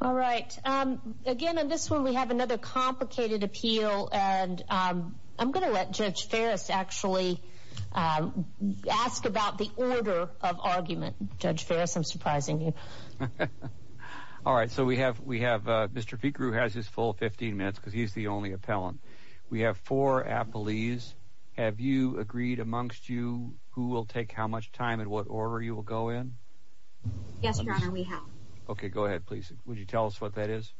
All right. Again, in this one we have another complicated appeal and I'm going to let Judge Farris actually ask about the order of argument. Judge Farris, I'm surprising you. All right. So we have Mr. Fikrou has his full 15 minutes because he's the only appellant. We have four appellees. Have you agreed amongst you who will take how much time and what order you will go in? Yes, Your Honor, we have. Okay, go ahead, please. Would you tell us what that is?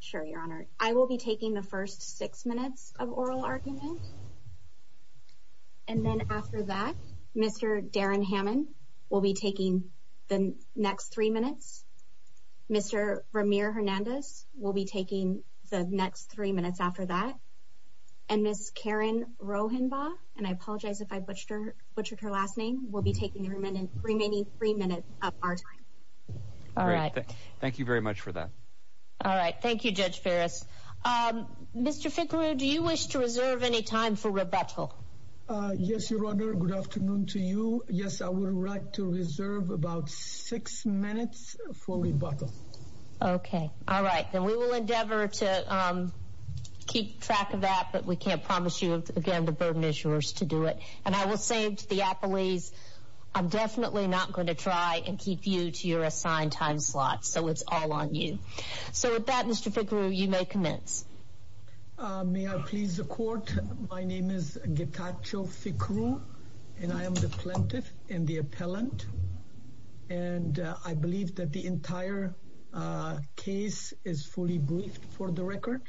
Sure, Your Honor. I will be taking the first six minutes of oral argument. And then after that, Mr. Darren Hammond will be taking the next three minutes. Mr. Ramir Hernandez will be taking the next three minutes after that. And Ms. Karen Rohenbaugh, and I apologize if I butchered her last name, will be taking the remaining three minutes of our time. Thank you very much for that. All right. Thank you, Judge Farris. Mr. Fikrou, do you wish to reserve any time for rebuttal? Yes, Your Honor. Good afternoon to you. Yes, I would like to reserve about six minutes for rebuttal. Okay. All right. Then we will endeavor to keep track of that, but we can't promise you, again, the burden issuers to do it. And I will say to the appellees, I'm definitely not going to try and keep you to your assigned time slot. So it's all on you. So with that, Mr. Fikrou, you may commence. May I please the court? My name is Getacho Fikrou, and I am the plaintiff and the appellant. And I believe that the entire case is fully briefed for the record.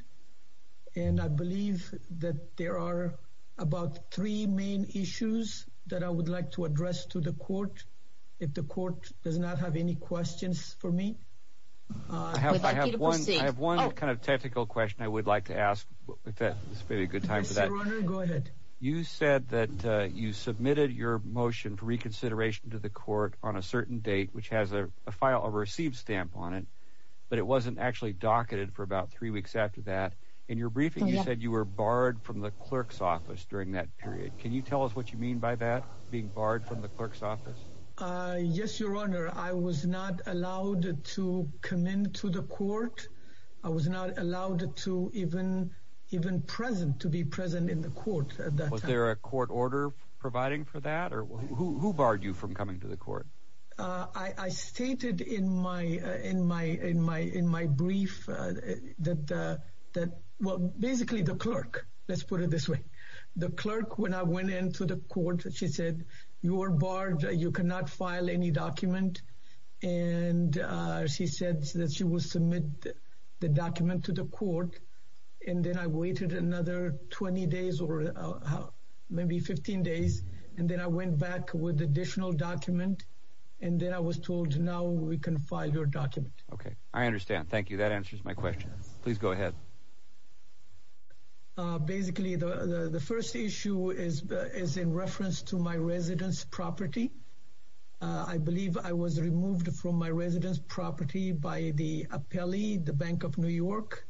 And I believe that there are about three main issues that I would like to address to the court, if the court does not have any questions for me. I have one kind of technical question I would like to ask, if that's a very good time for that. Go ahead. You said that you submitted your motion for reconsideration to the court on a certain date, which has a received stamp on it, but it wasn't actually docketed for about three weeks after that in your briefing. You said you were barred from the clerk's office during that period. Can you tell us what you mean by that, being barred from the clerk's office? Yes, Your Honor. I was not allowed to come into the court. I was not allowed to even present, to be present in the court at that time. Was there a court order providing for that? Or who barred you from coming to the court? I stated in my brief that, well, basically the clerk, let's put it this way. The clerk, when I went into the court, she said, you were barred. You cannot file any document. And she said that she will submit the document to the court. And then I waited another 20 days or maybe 15 days. And then I went back with additional document. And then I was told, now we can file your document. Okay. I understand. Thank you. That answers my question. Please go ahead. Basically, the first issue is in reference to my residence property. I believe I was removed from my residence property by the appellee, the Bank of New York,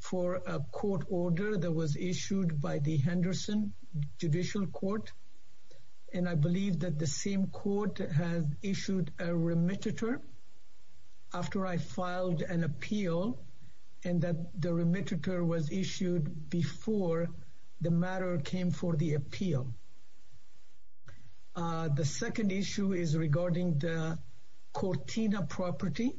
for a court order that was issued by the Henderson Judicial Court. And I believe that the same court has issued a remittitor after I filed an appeal and that the remittitor was issued before the matter came for the appeal. The second issue is regarding the Cortina property.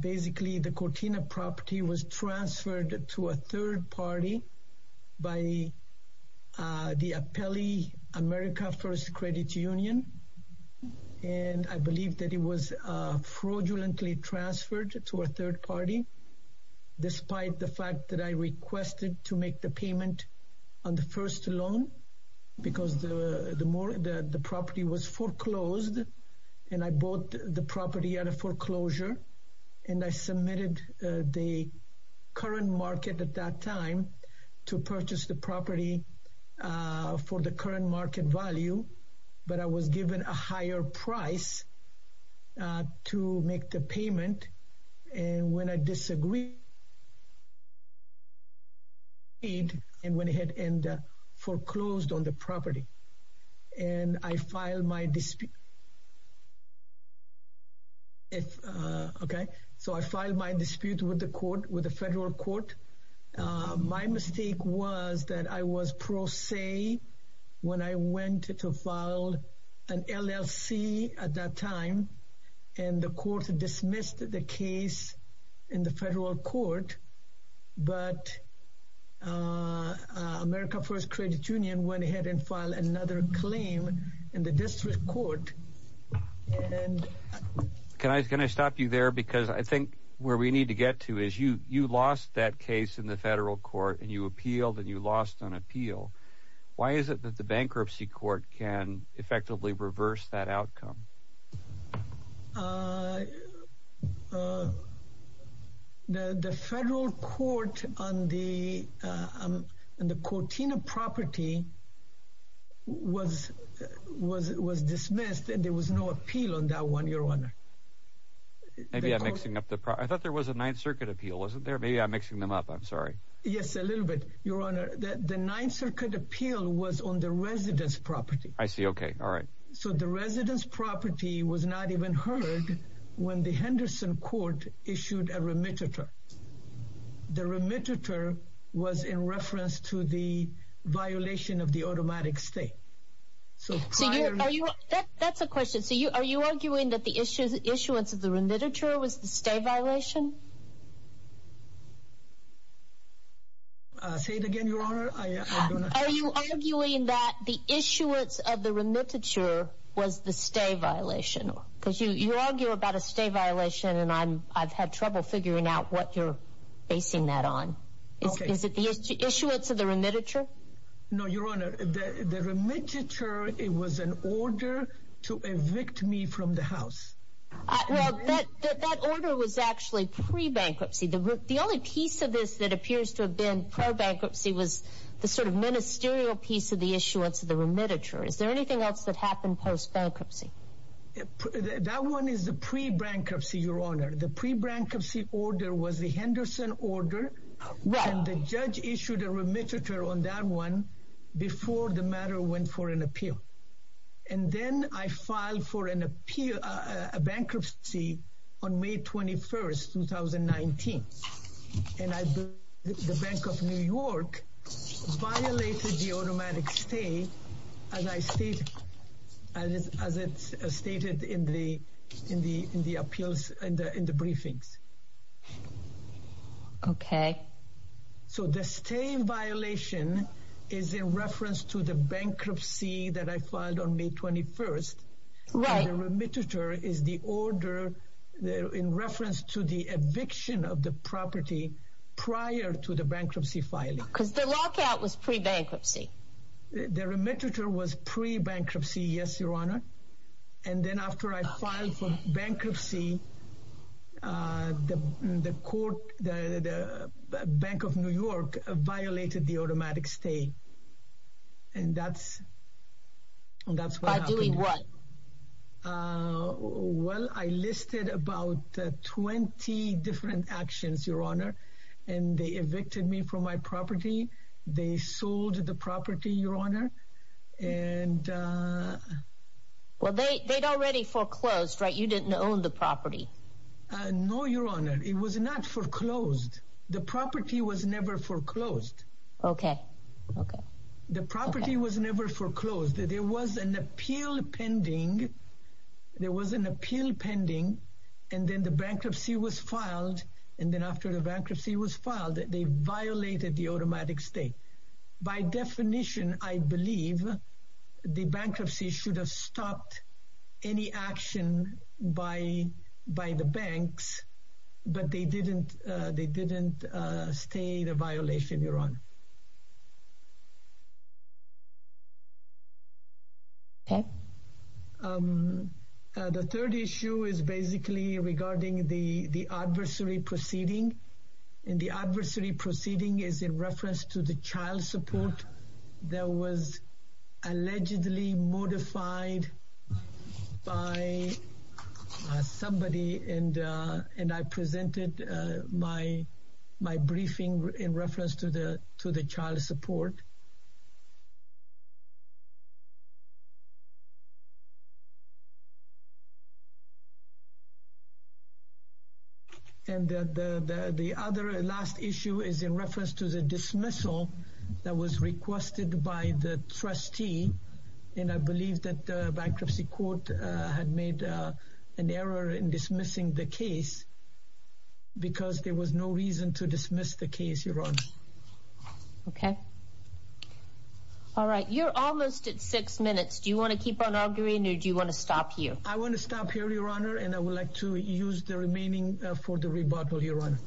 Basically, the Cortina property was transferred to a third party by the Appellee America First Credit Union. And I believe that it was fraudulently transferred to a third party, despite the fact that I requested to make the payment on the first loan, because the property was foreclosed. And I bought the property at a foreclosure. And I submitted the current market at that time to purchase the property for the current market value. But I was given a higher price to make the payment. And when I disagreed, I went ahead and foreclosed on the property. And I filed my dispute with the federal court. My mistake was that I was pro se when I went to file an LLC at that time. And the court dismissed the case in the federal court. But America First Credit Union went ahead and filed another claim in the district court. Can I stop you there? Because I think where we need to get to is you lost that case in the federal court and you appealed and you lost on appeal. Why is it that the bankruptcy court can effectively reverse that outcome? The federal court on the Cortina property was dismissed and there was no appeal on that one, your honor. Maybe I'm mixing up the problem. I thought there was a Ninth Circuit appeal, wasn't there? Maybe I'm mixing them up. I'm sorry. Yes, a little bit, your honor. The Ninth Circuit appeal was on the property. I see. OK. All right. So the residence property was not even heard when the Henderson court issued a remittance. The remittance was in reference to the violation of the automatic state. So that's a question. So are you arguing that the issuance of the remittance was the state violation? I'll say it again, your honor. Are you arguing that the issuance of the remittance was the state violation? Because you argue about a state violation and I've had trouble figuring out what you're basing that on. Is it the issuance of the remittance? No, your honor. The remittance, it was an order to evict me from the house. That order was actually pre-bankruptcy. The only piece of this that appears to have been pro-bankruptcy was the sort of ministerial piece of the issuance of the remittance. Is there anything else that happened post-bankruptcy? That one is the pre-bankruptcy, your honor. The pre-bankruptcy order was the Henderson order. The judge issued a remittance on that one before the matter went for an appeal. And then I filed for a bankruptcy on May 21st, 2019. And the Bank of New York violated the automatic stay as it's stated in the remittance. The state violation is in reference to the bankruptcy that I filed on May 21st. Right. And the remittance is the order in reference to the eviction of the property prior to the bankruptcy filing. Because the lockout was pre-bankruptcy. The remittance was pre-bankruptcy, yes, your honor. And then after I filed for bankruptcy, the Bank of New York violated the automatic stay. And that's what happened. By doing what? Well, I listed about 20 different actions, your honor. And they evicted me from my property. They sold the property, your honor. Well, they'd already foreclosed, you didn't own the property. No, your honor. It was not foreclosed. The property was never foreclosed. Okay. Okay. The property was never foreclosed. There was an appeal pending. There was an appeal pending. And then the bankruptcy was filed. And then after the bankruptcy was filed, they violated the automatic stay. By definition, I believe the bankruptcy should have stopped any action by the banks. But they didn't stay the violation, your honor. Okay. The third issue is basically regarding the adversary proceeding. And the allegedly modified by somebody. And I presented my briefing in reference to the child support. And the other last issue is in reference to the dismissal that was requested by the trustee. And I believe that the bankruptcy court had made an error in dismissing the case because there was no reason to dismiss the case, your honor. Okay. All right. You're almost at six minutes. Do you want to keep on arguing or do you want to stop here? I want to stop here, your honor. And I would like to use the remaining for the rebuttal, your honor.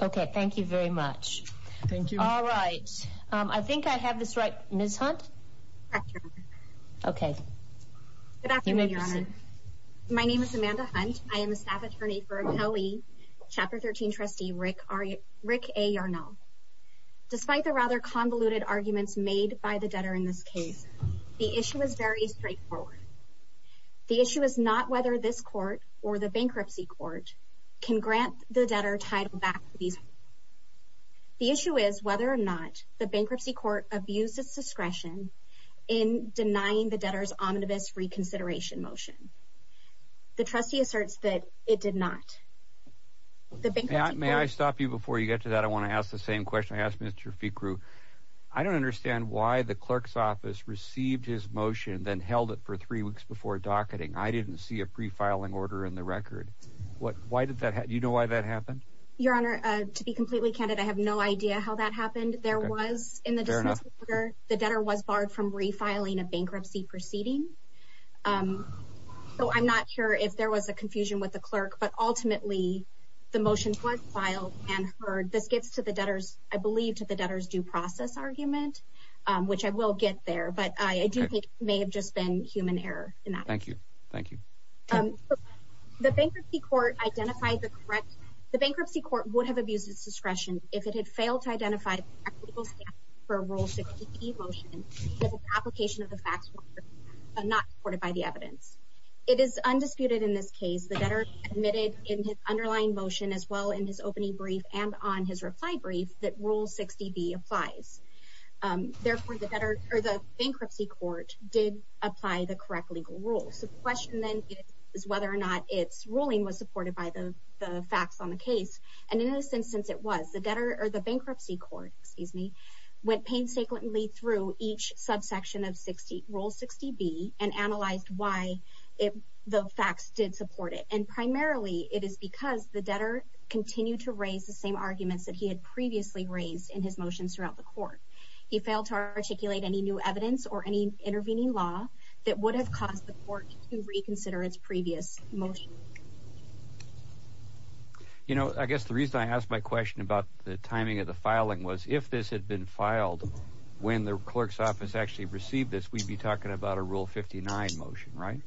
Okay. Thank you very much. Thank you. All right. I think I have this right, Ms. Hunt. Okay. Good afternoon, your honor. My name is Amanda Hunt. I am a staff attorney for made by the debtor in this case. The issue is very straightforward. The issue is not whether this court or the bankruptcy court can grant the debtor title back. The issue is whether or not the bankruptcy court abuses discretion in denying the debtor's omnibus reconsideration motion. The trustee asserts that it did not. May I stop you before you get to that? I want to ask the same question I asked Mr. Ficru. I don't understand why the clerk's office received his motion, then held it for three weeks before docketing. I didn't see a pre-filing order in the record. Why did that happen? Do you know why that happened? Your honor, to be completely candid, I have no idea how that happened. There was, in the dismissal order, the debtor was barred from refiling a bankruptcy proceeding. So I'm not sure if there was a confusion with the clerk, but ultimately, the motion was filed and heard. This gets to the debtor's, I believe, to the debtor's due process argument, which I will get there, but I do think it may have just been human error in that. Thank you. Thank you. The bankruptcy court identified the correct, the bankruptcy court would have abused its discretion if it had failed to identify equitable staff for a Rule 60E motion that the application of the facts were not supported by the evidence. It is undisputed in this case, the debtor admitted in his underlying motion, as well in his opening brief and on his reply brief, that Rule 60B applies. Therefore, the bankruptcy court did apply the correct legal rules. The question then is whether or not its ruling was supported by the facts on the case, and in this instance, it was. The bankruptcy court went painstakingly through each subsection of Rule 60B and analyzed why the facts did support it, and primarily, it is because the debtor continued to raise the same arguments that he had previously raised in his motions throughout the court. He failed to articulate any new evidence or any intervening law that would have caused the court to reconsider its previous motion. You know, I guess the reason I asked my question about the timing of the filing was if this had been filed when the bankruptcy court actually received this, we'd be talking about a Rule 59 motion, right?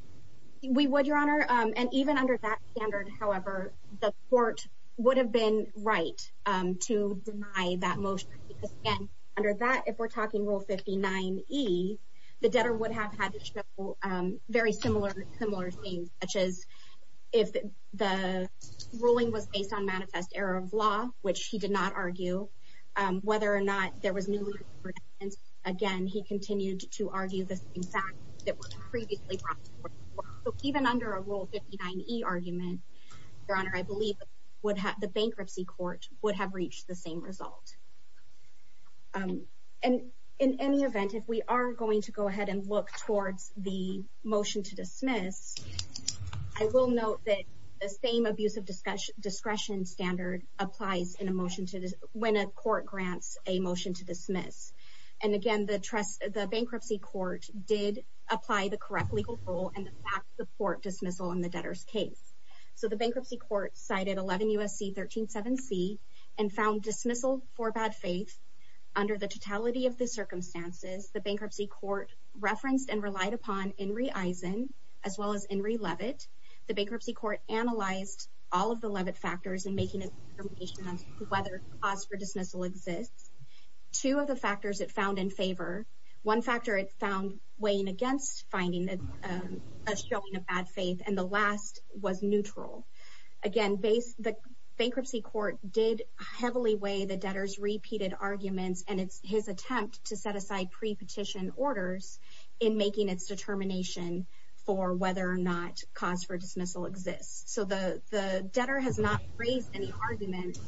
We would, Your Honor, and even under that standard, however, the court would have been right to deny that motion, because again, under that, if we're talking Rule 59E, the debtor would have had to show very similar things, such as if the ruling was based on manifest error of law, which he did not argue, whether or not there was new evidence. Again, he continued to argue the same facts that were previously brought to the court. So even under a Rule 59E argument, Your Honor, I believe the bankruptcy court would have reached the same result. And in any event, if we are going to go ahead and look towards the motion to dismiss, I will note that the same abuse of discretion standard applies when a court grants a motion to dismiss. And again, the bankruptcy court did apply the correct legal rule and backed the court dismissal in the debtor's case. So the bankruptcy court cited 11 U.S.C. 137C and found dismissal for bad faith. Under the totality of the circumstances, the bankruptcy court referenced and relied upon Inree Eisen as well as Inree Leavitt. The bankruptcy court analyzed all of the Leavitt factors in making a determination of whether cause for dismissal exists. Two of the factors it found in favor, one factor it found weighing against finding a showing of bad faith, and the last was neutral. Again, the bankruptcy court did heavily weigh the debtor's repeated arguments and his attempt to set aside pre-petition orders in making its determination for whether or not cause for dismissal exists. So the debtor has not raised any argument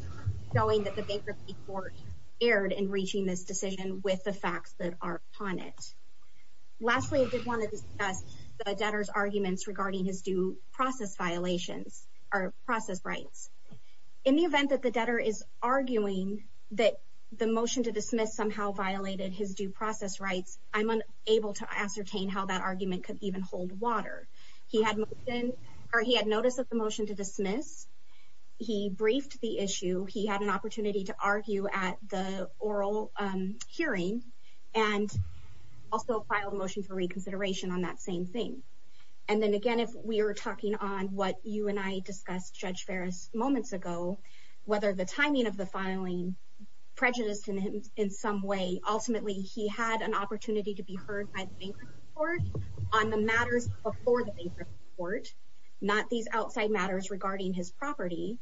showing that the bankruptcy court erred in reaching this decision with the facts that are upon it. Lastly, I did want to discuss the debtor's arguments regarding his due process violations or process rights. In the event that the debtor is arguing that the motion to dismiss somehow violated his due process rights, I'm unable to ascertain how that argument could even hold water. He had noticed that the motion to dismiss, he briefed the issue, he had an opportunity to argue at the oral hearing, and also filed a motion for reconsideration on that same thing. And then again, if we are talking on what you and I discussed, Judge Ferris, moments ago, whether the timing of the filing prejudiced him in some way, ultimately he had an opportunity to be heard by the bankruptcy court on the matters before the bankruptcy court, not these outside matters regarding his property,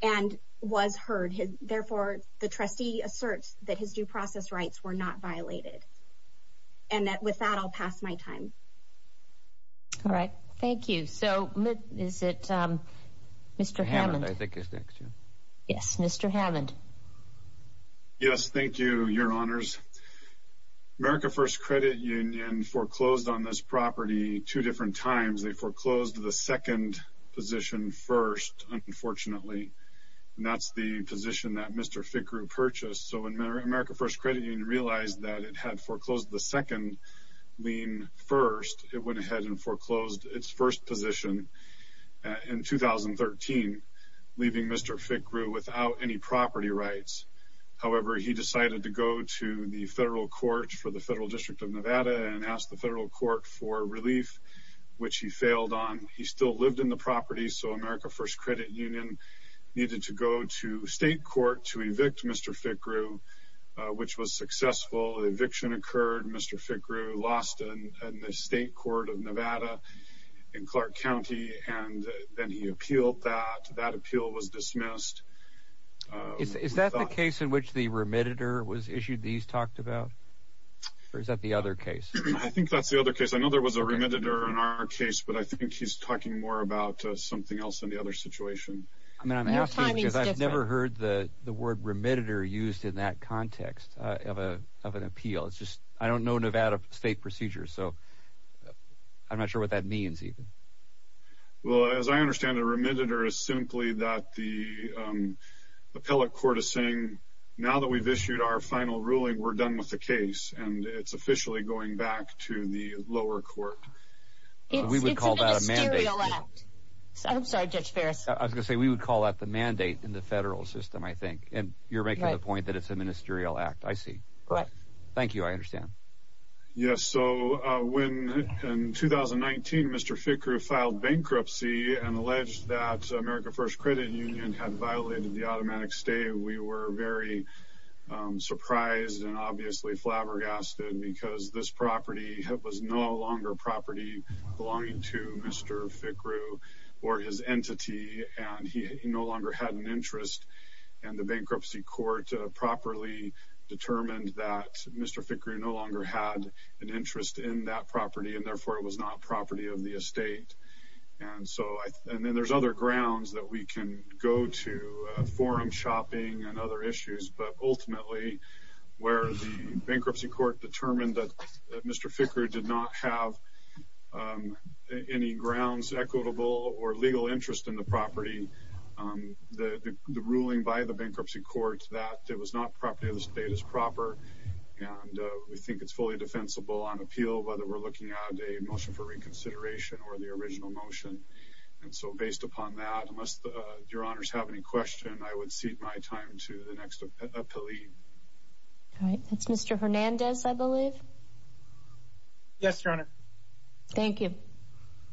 and was heard. Therefore, the trustee asserts that his due process violations were not caused by the bankruptcy court, but by the debtor himself. And so, I'm going to pass my time. All right. Thank you. So, is it Mr. Hammond? Hammond, I think, is next, yeah. Yes. Mr. Hammond. Yes. Thank you, Your Honors. America First Credit Union foreclosed on this property two different times. They foreclosed the second position first, unfortunately. And that's the position that Mr. Fickrew purchased. So, when America First Credit Union realized that it had foreclosed the second lien first, it went ahead and foreclosed its first position in 2013, leaving Mr. Fickrew without any property rights. However, he decided to go to the federal court for the federal district of Nevada and asked the federal court for relief, which he failed on. He still lived in the property. So, America First Credit Union needed to go to state court to evict Mr. Fickrew, which was successful. Eviction occurred. Mr. Fickrew lost in the state court of Nevada in Clark County, and then he appealed that. That appeal was dismissed. Is that the case in which the remitter was issued that he's talked about? Or is that the other case? I think that's the other case. I know there was a remitter in our case, but I think he's talking more about something else in the other situation. I'm asking because I've never heard the word remitter used in that context of an appeal. I don't know Nevada state procedures, so I'm not sure what that means, even. Well, as I understand it, a remitter is simply that the appellate court is saying, now that we've issued our final ruling, we're done with the case, and it's officially going back to the lower court. It's a ministerial act. I'm sorry, Judge Ferris. I was going to say we would call that the mandate in the federal system, I think, and you're making the point that it's a ministerial act. I see. Correct. Thank you. I understand. Yes. So, when in 2019, Mr. Fickrew filed bankruptcy and alleged that America First Credit Union had violated the bankruptcy law. I was very surprised and obviously flabbergasted because this property was no longer property belonging to Mr. Fickrew or his entity, and he no longer had an interest, and the bankruptcy court properly determined that Mr. Fickrew no longer had an interest in that property, and therefore it was not property of the estate. And then there's other grounds that we can go to, forum shopping and other issues, but ultimately, where the bankruptcy court determined that Mr. Fickrew did not have any grounds equitable or legal interest in the property, the ruling by the bankruptcy court that it was not property of the estate is proper, and we think it's fully defensible on appeal, whether we're looking at a motion for reconsideration or the original motion. And so, based upon that, unless your honors have any question, I would cede my time to the next appellee. All right. That's Mr. Hernandez, I believe. Yes, your honor. Thank you.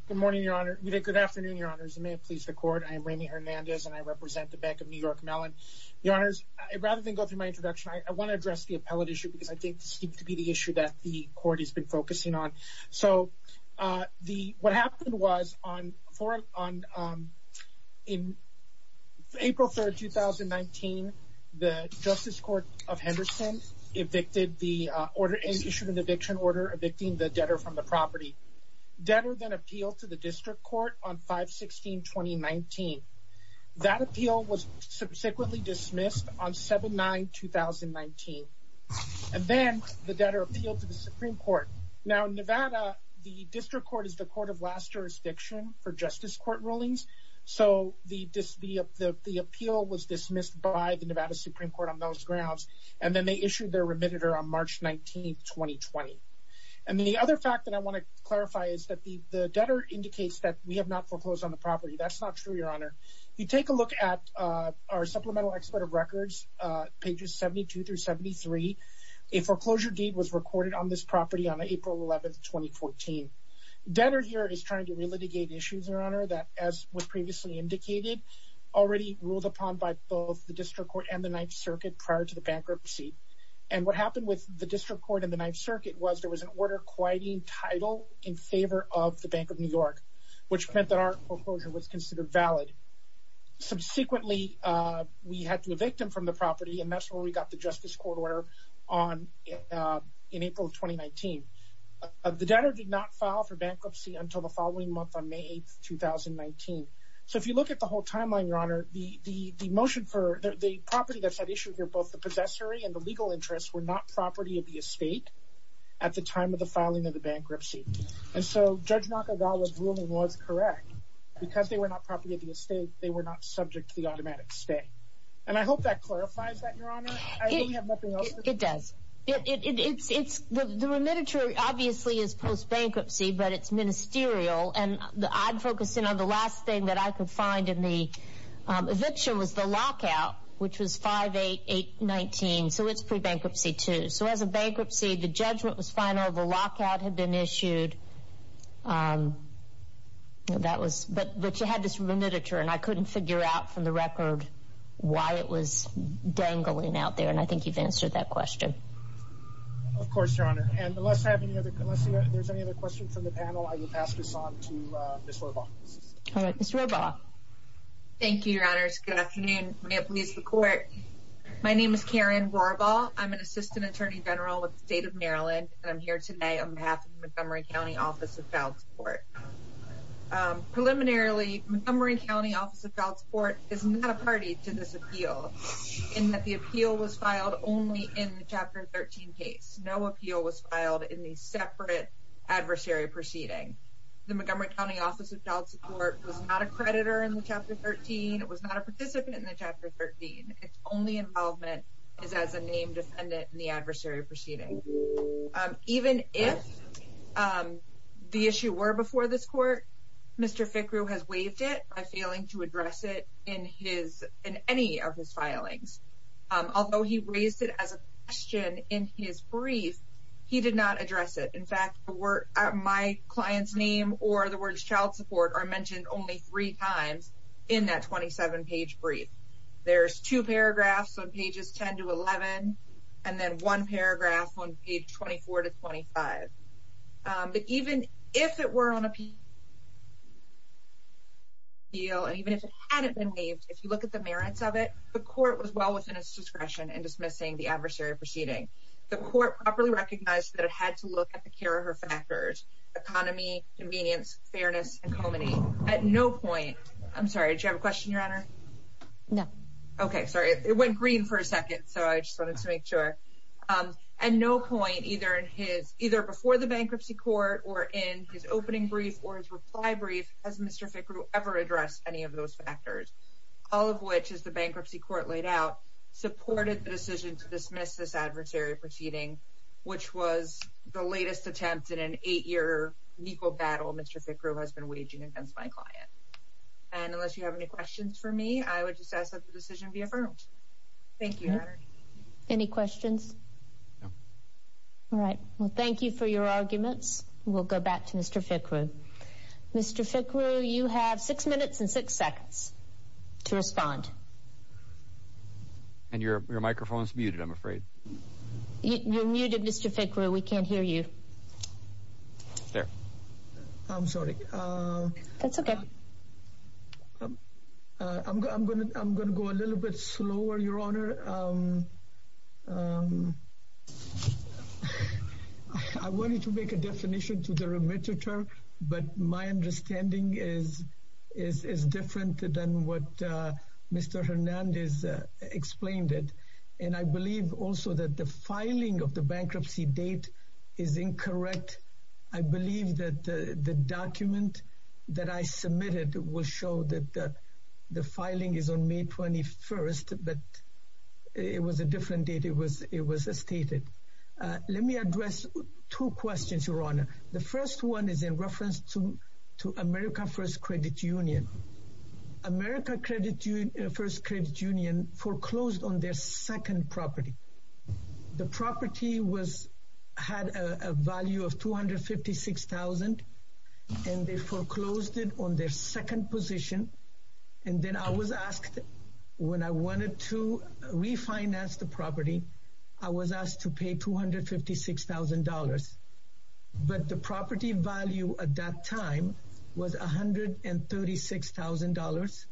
Good morning, your honor. Good afternoon, your honors. May it please the court. I am Ramey Hernandez, and I represent the Bank of New York Mellon. Your honors, rather than go through my introduction, I want to address the appellate issue because I think this seems to be the issue that the court has been focusing on. So, what happened was in April 3rd, 2019, the Justice Court of Henderson issued an eviction order evicting the debtor from the property. Debtor then appealed to the district court on 5-16-2019. That appeal was subsequently dismissed on 7-9-2019. And then the debtor appealed to the Supreme Court. Now, in Nevada, the district court is the court of last jurisdiction for justice court rulings. So, the appeal was dismissed by the Nevada Supreme Court on those grounds, and then they issued their remitted on March 19th, 2020. And the other fact that I want to clarify is that the debtor indicates that we have not foreclosed on the property. That's not true, your honor. You take a look at our supplemental expert of records, pages 72-73. A foreclosure deed was recorded on this property on April 11th, 2014. Debtor here is trying to relitigate issues, your honor, that as was previously indicated, already ruled upon by both the district court and the Ninth Circuit prior to the bankruptcy. And what happened with the district court and the Ninth Circuit was there was an order quieting title in favor of the Bank of New York, which meant that our foreclosure was considered valid. Subsequently, we had to evict him from the property, and that's where we got the justice court order in April of 2019. The debtor did not file for bankruptcy until the following month on May 8th, 2019. So, if you look at the whole timeline, your honor, the property that's at issue here, both the possessory and the legal interests, were not property of the estate at the time of the filing of the bankruptcy. And so, Judge Nakagawa's ruling was correct. Because they were not property of the estate, they were not subject to the automatic stay. And I hope that clarifies that, your honor. I don't have nothing else. It does. The remediatory obviously is post-bankruptcy, but it's ministerial, and I'd focus in on the last thing that I could find in the eviction was the lockout, which was 5-8-8-19. So, it's pre-bankruptcy too. So, as a bankruptcy, the judgment was final, the lockout had been issued. But you had this remediatory, and I couldn't figure out from the record why it was dangling out there, and I think you've answered that question. Of course, your honor. And unless there's any other questions from the panel, I will pass this on to Ms. Rorbaugh. All right. Ms. Rorbaugh. Thank you, your honors. Good afternoon. May it please the court. My name is Karen Rorbaugh. I'm an assistant attorney general with the state of Maryland, and I'm here today on behalf of Montgomery County Office of Child Support. Preliminarily, Montgomery County Office of Child Support is not a party to this appeal, in that the appeal was filed only in the Chapter 13 case. No appeal was filed in the separate adversary proceeding. The Montgomery County Office of Child Support was not a creditor in the Chapter 13. It was not a participant in the Chapter 13. Its only involvement is as a named defendant in the adversary proceeding. Even if the issue were before this court, Mr. Fickrew has waived it by failing to address it in any of his filings. Although he raised it as a question in his brief, he did not address it. In fact, my client's name or the word child support are mentioned only three times in that 27-page brief. There's two paragraphs on pages 10 to 11, and then one paragraph on page 24 to 25. But even if it were on appeal, and even if it hadn't been waived, if you look at the merits of it, the court was well within its discretion in dismissing the adversary proceeding. The court properly recognized that it had to look at the care of her factors, economy, convenience, fairness, at no point, I'm sorry, did you have a question, your honor? No. Okay, sorry, it went green for a second, so I just wanted to make sure. At no point, either in his, either before the bankruptcy court, or in his opening brief, or his reply brief, has Mr. Fickrew ever addressed any of those factors, all of which, as the bankruptcy court laid out, supported the decision to dismiss this adversary proceeding, which was the latest attempt in an eight-year legal battle Mr. Fickrew was waging against my client. And unless you have any questions for me, I would just ask that the decision be affirmed. Thank you. Any questions? No. All right, well, thank you for your arguments. We'll go back to Mr. Fickrew. Mr. Fickrew, you have six minutes and six seconds to respond. And your microphone's muted, I'm afraid. You're muted, Mr. Fickrew, we can't hear you. There. I'm sorry. That's okay. I'm gonna go a little bit slower, your honor. I wanted to make a definition to the remitter, but my understanding is different than what Mr. Hernandez explained it. And I believe also that the filing of the bankruptcy date is incorrect. I believe that the document that I submitted will show that the filing is on May 21st, but it was a different date it was stated. Let me address two questions, your honor. The first one is in reference to America First Credit Union. America First Credit Union foreclosed on their second property. The property had a value of $256,000 and they foreclosed it on their second position. And then I was asked, when I wanted to refinance the property, I was asked to at that time was $136,000.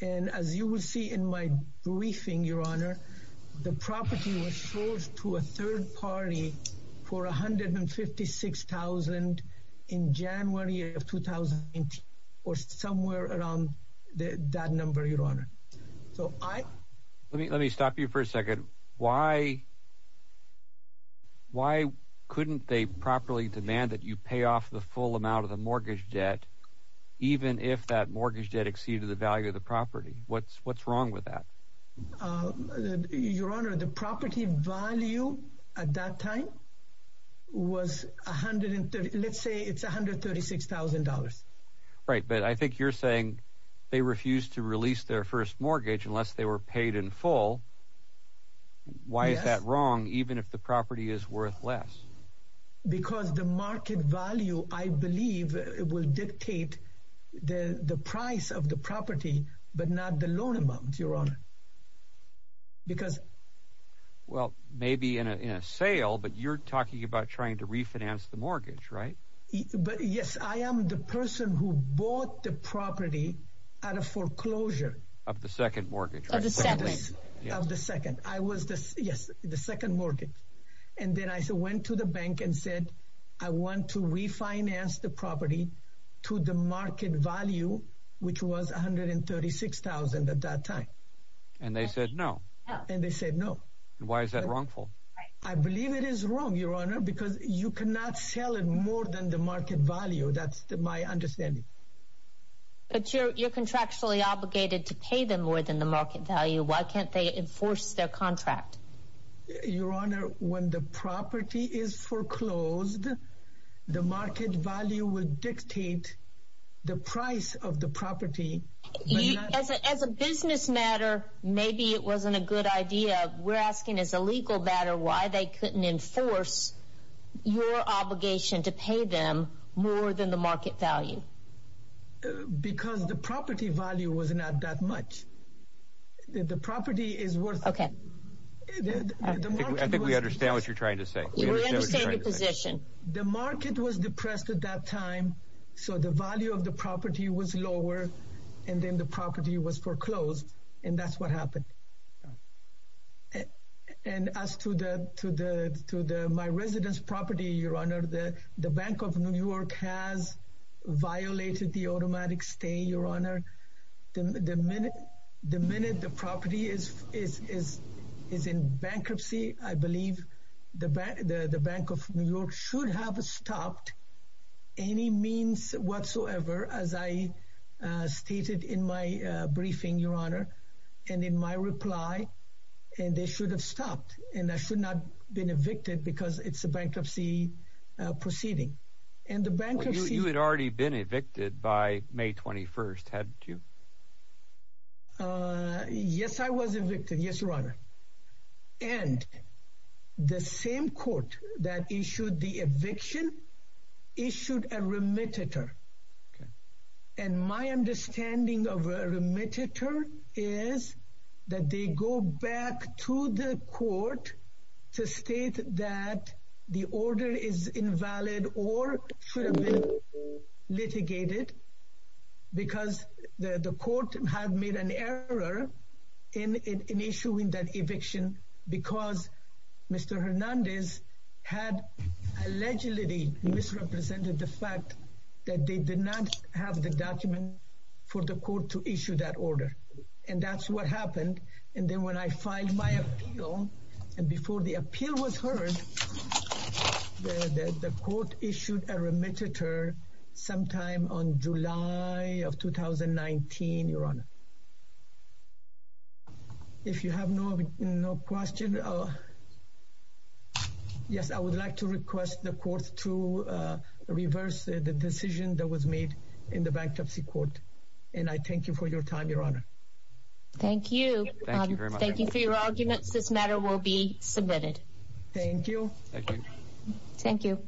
And as you will see in my briefing, your honor, the property was sold to a third party for $156,000 in January of 2018, or somewhere around that number, your honor. So I, let me, let me stop you for a second. Why, why couldn't they properly demand that you pay off the full amount of the mortgage debt, even if that mortgage debt exceeded the value of the property? What's, what's wrong with that? Your honor, the property value at that time was 130. Let's say it's $136,000. Right. But I think you're saying they refused to release their first mortgage unless they were paid in full. Why is that wrong? Even if the property is worth less. Because the market value, I believe it will dictate the price of the property, but not the loan amount, your honor. Because. Well, maybe in a, in a sale, but you're talking about trying to refinance the mortgage, right? But yes, I am the person who bought the property out of foreclosure. Of the second mortgage. Of the second. Of the second. I was the, yes, the second mortgage. And then I went to the bank and said, I want to refinance the property to the market value, which was $136,000 at that time. And they said no. And they said no. Why is that wrongful? I believe it is wrong, your honor, because you cannot sell it more than the market value. That's my understanding. But you're, you're contractually obligated to pay them more than the market value. Why can't they enforce their contract? Your honor, when the property is foreclosed, the market value will dictate the price of the property. As a business matter, maybe it wasn't a good idea. We're asking as a legal matter, why they couldn't enforce your obligation to pay them more than the market value. Because the property value was not that much. The property is worth. Okay. I think we understand what you're trying to say. We understand your position. The market was depressed at that time. So the value of the property was lower. And then the property was foreclosed. And that's what happened. And as to the, to the, to the, my residence property, your honor, the, the Bank of New York has violated the automatic stay, your honor, the minute, the minute the property is, is, is, is in bankruptcy, I believe the bank, the Bank of New York should have stopped any means whatsoever, as I stated in my briefing, your honor. And in my reply, and they should have stopped and I should not been evicted because it's a bankruptcy proceeding and the bankruptcy. You had already been evicted by May 21st. Had you? Yes, I was evicted. Yes, your honor. And the same court that issued the eviction, issued a remitter. And my understanding of a remitter is that they go back to the court to state that the order is invalid or should have been litigated because the, the court had made an error in, in, in issuing that eviction because Mr. Hernandez had allegedly misrepresented the fact that they did not have the document for the court to issue that order. And that's what happened. And then when I filed my appeal, and before the appeal was heard, the court issued a remitter sometime on July of 2019, your honor. If you have no, no question. Yes, I would like to request the courts to reverse the decision that was made in the bankruptcy court. And I thank you for your time, your honor. Thank you. Thank you for your arguments. This matter will be submitted. Thank you. Thank you.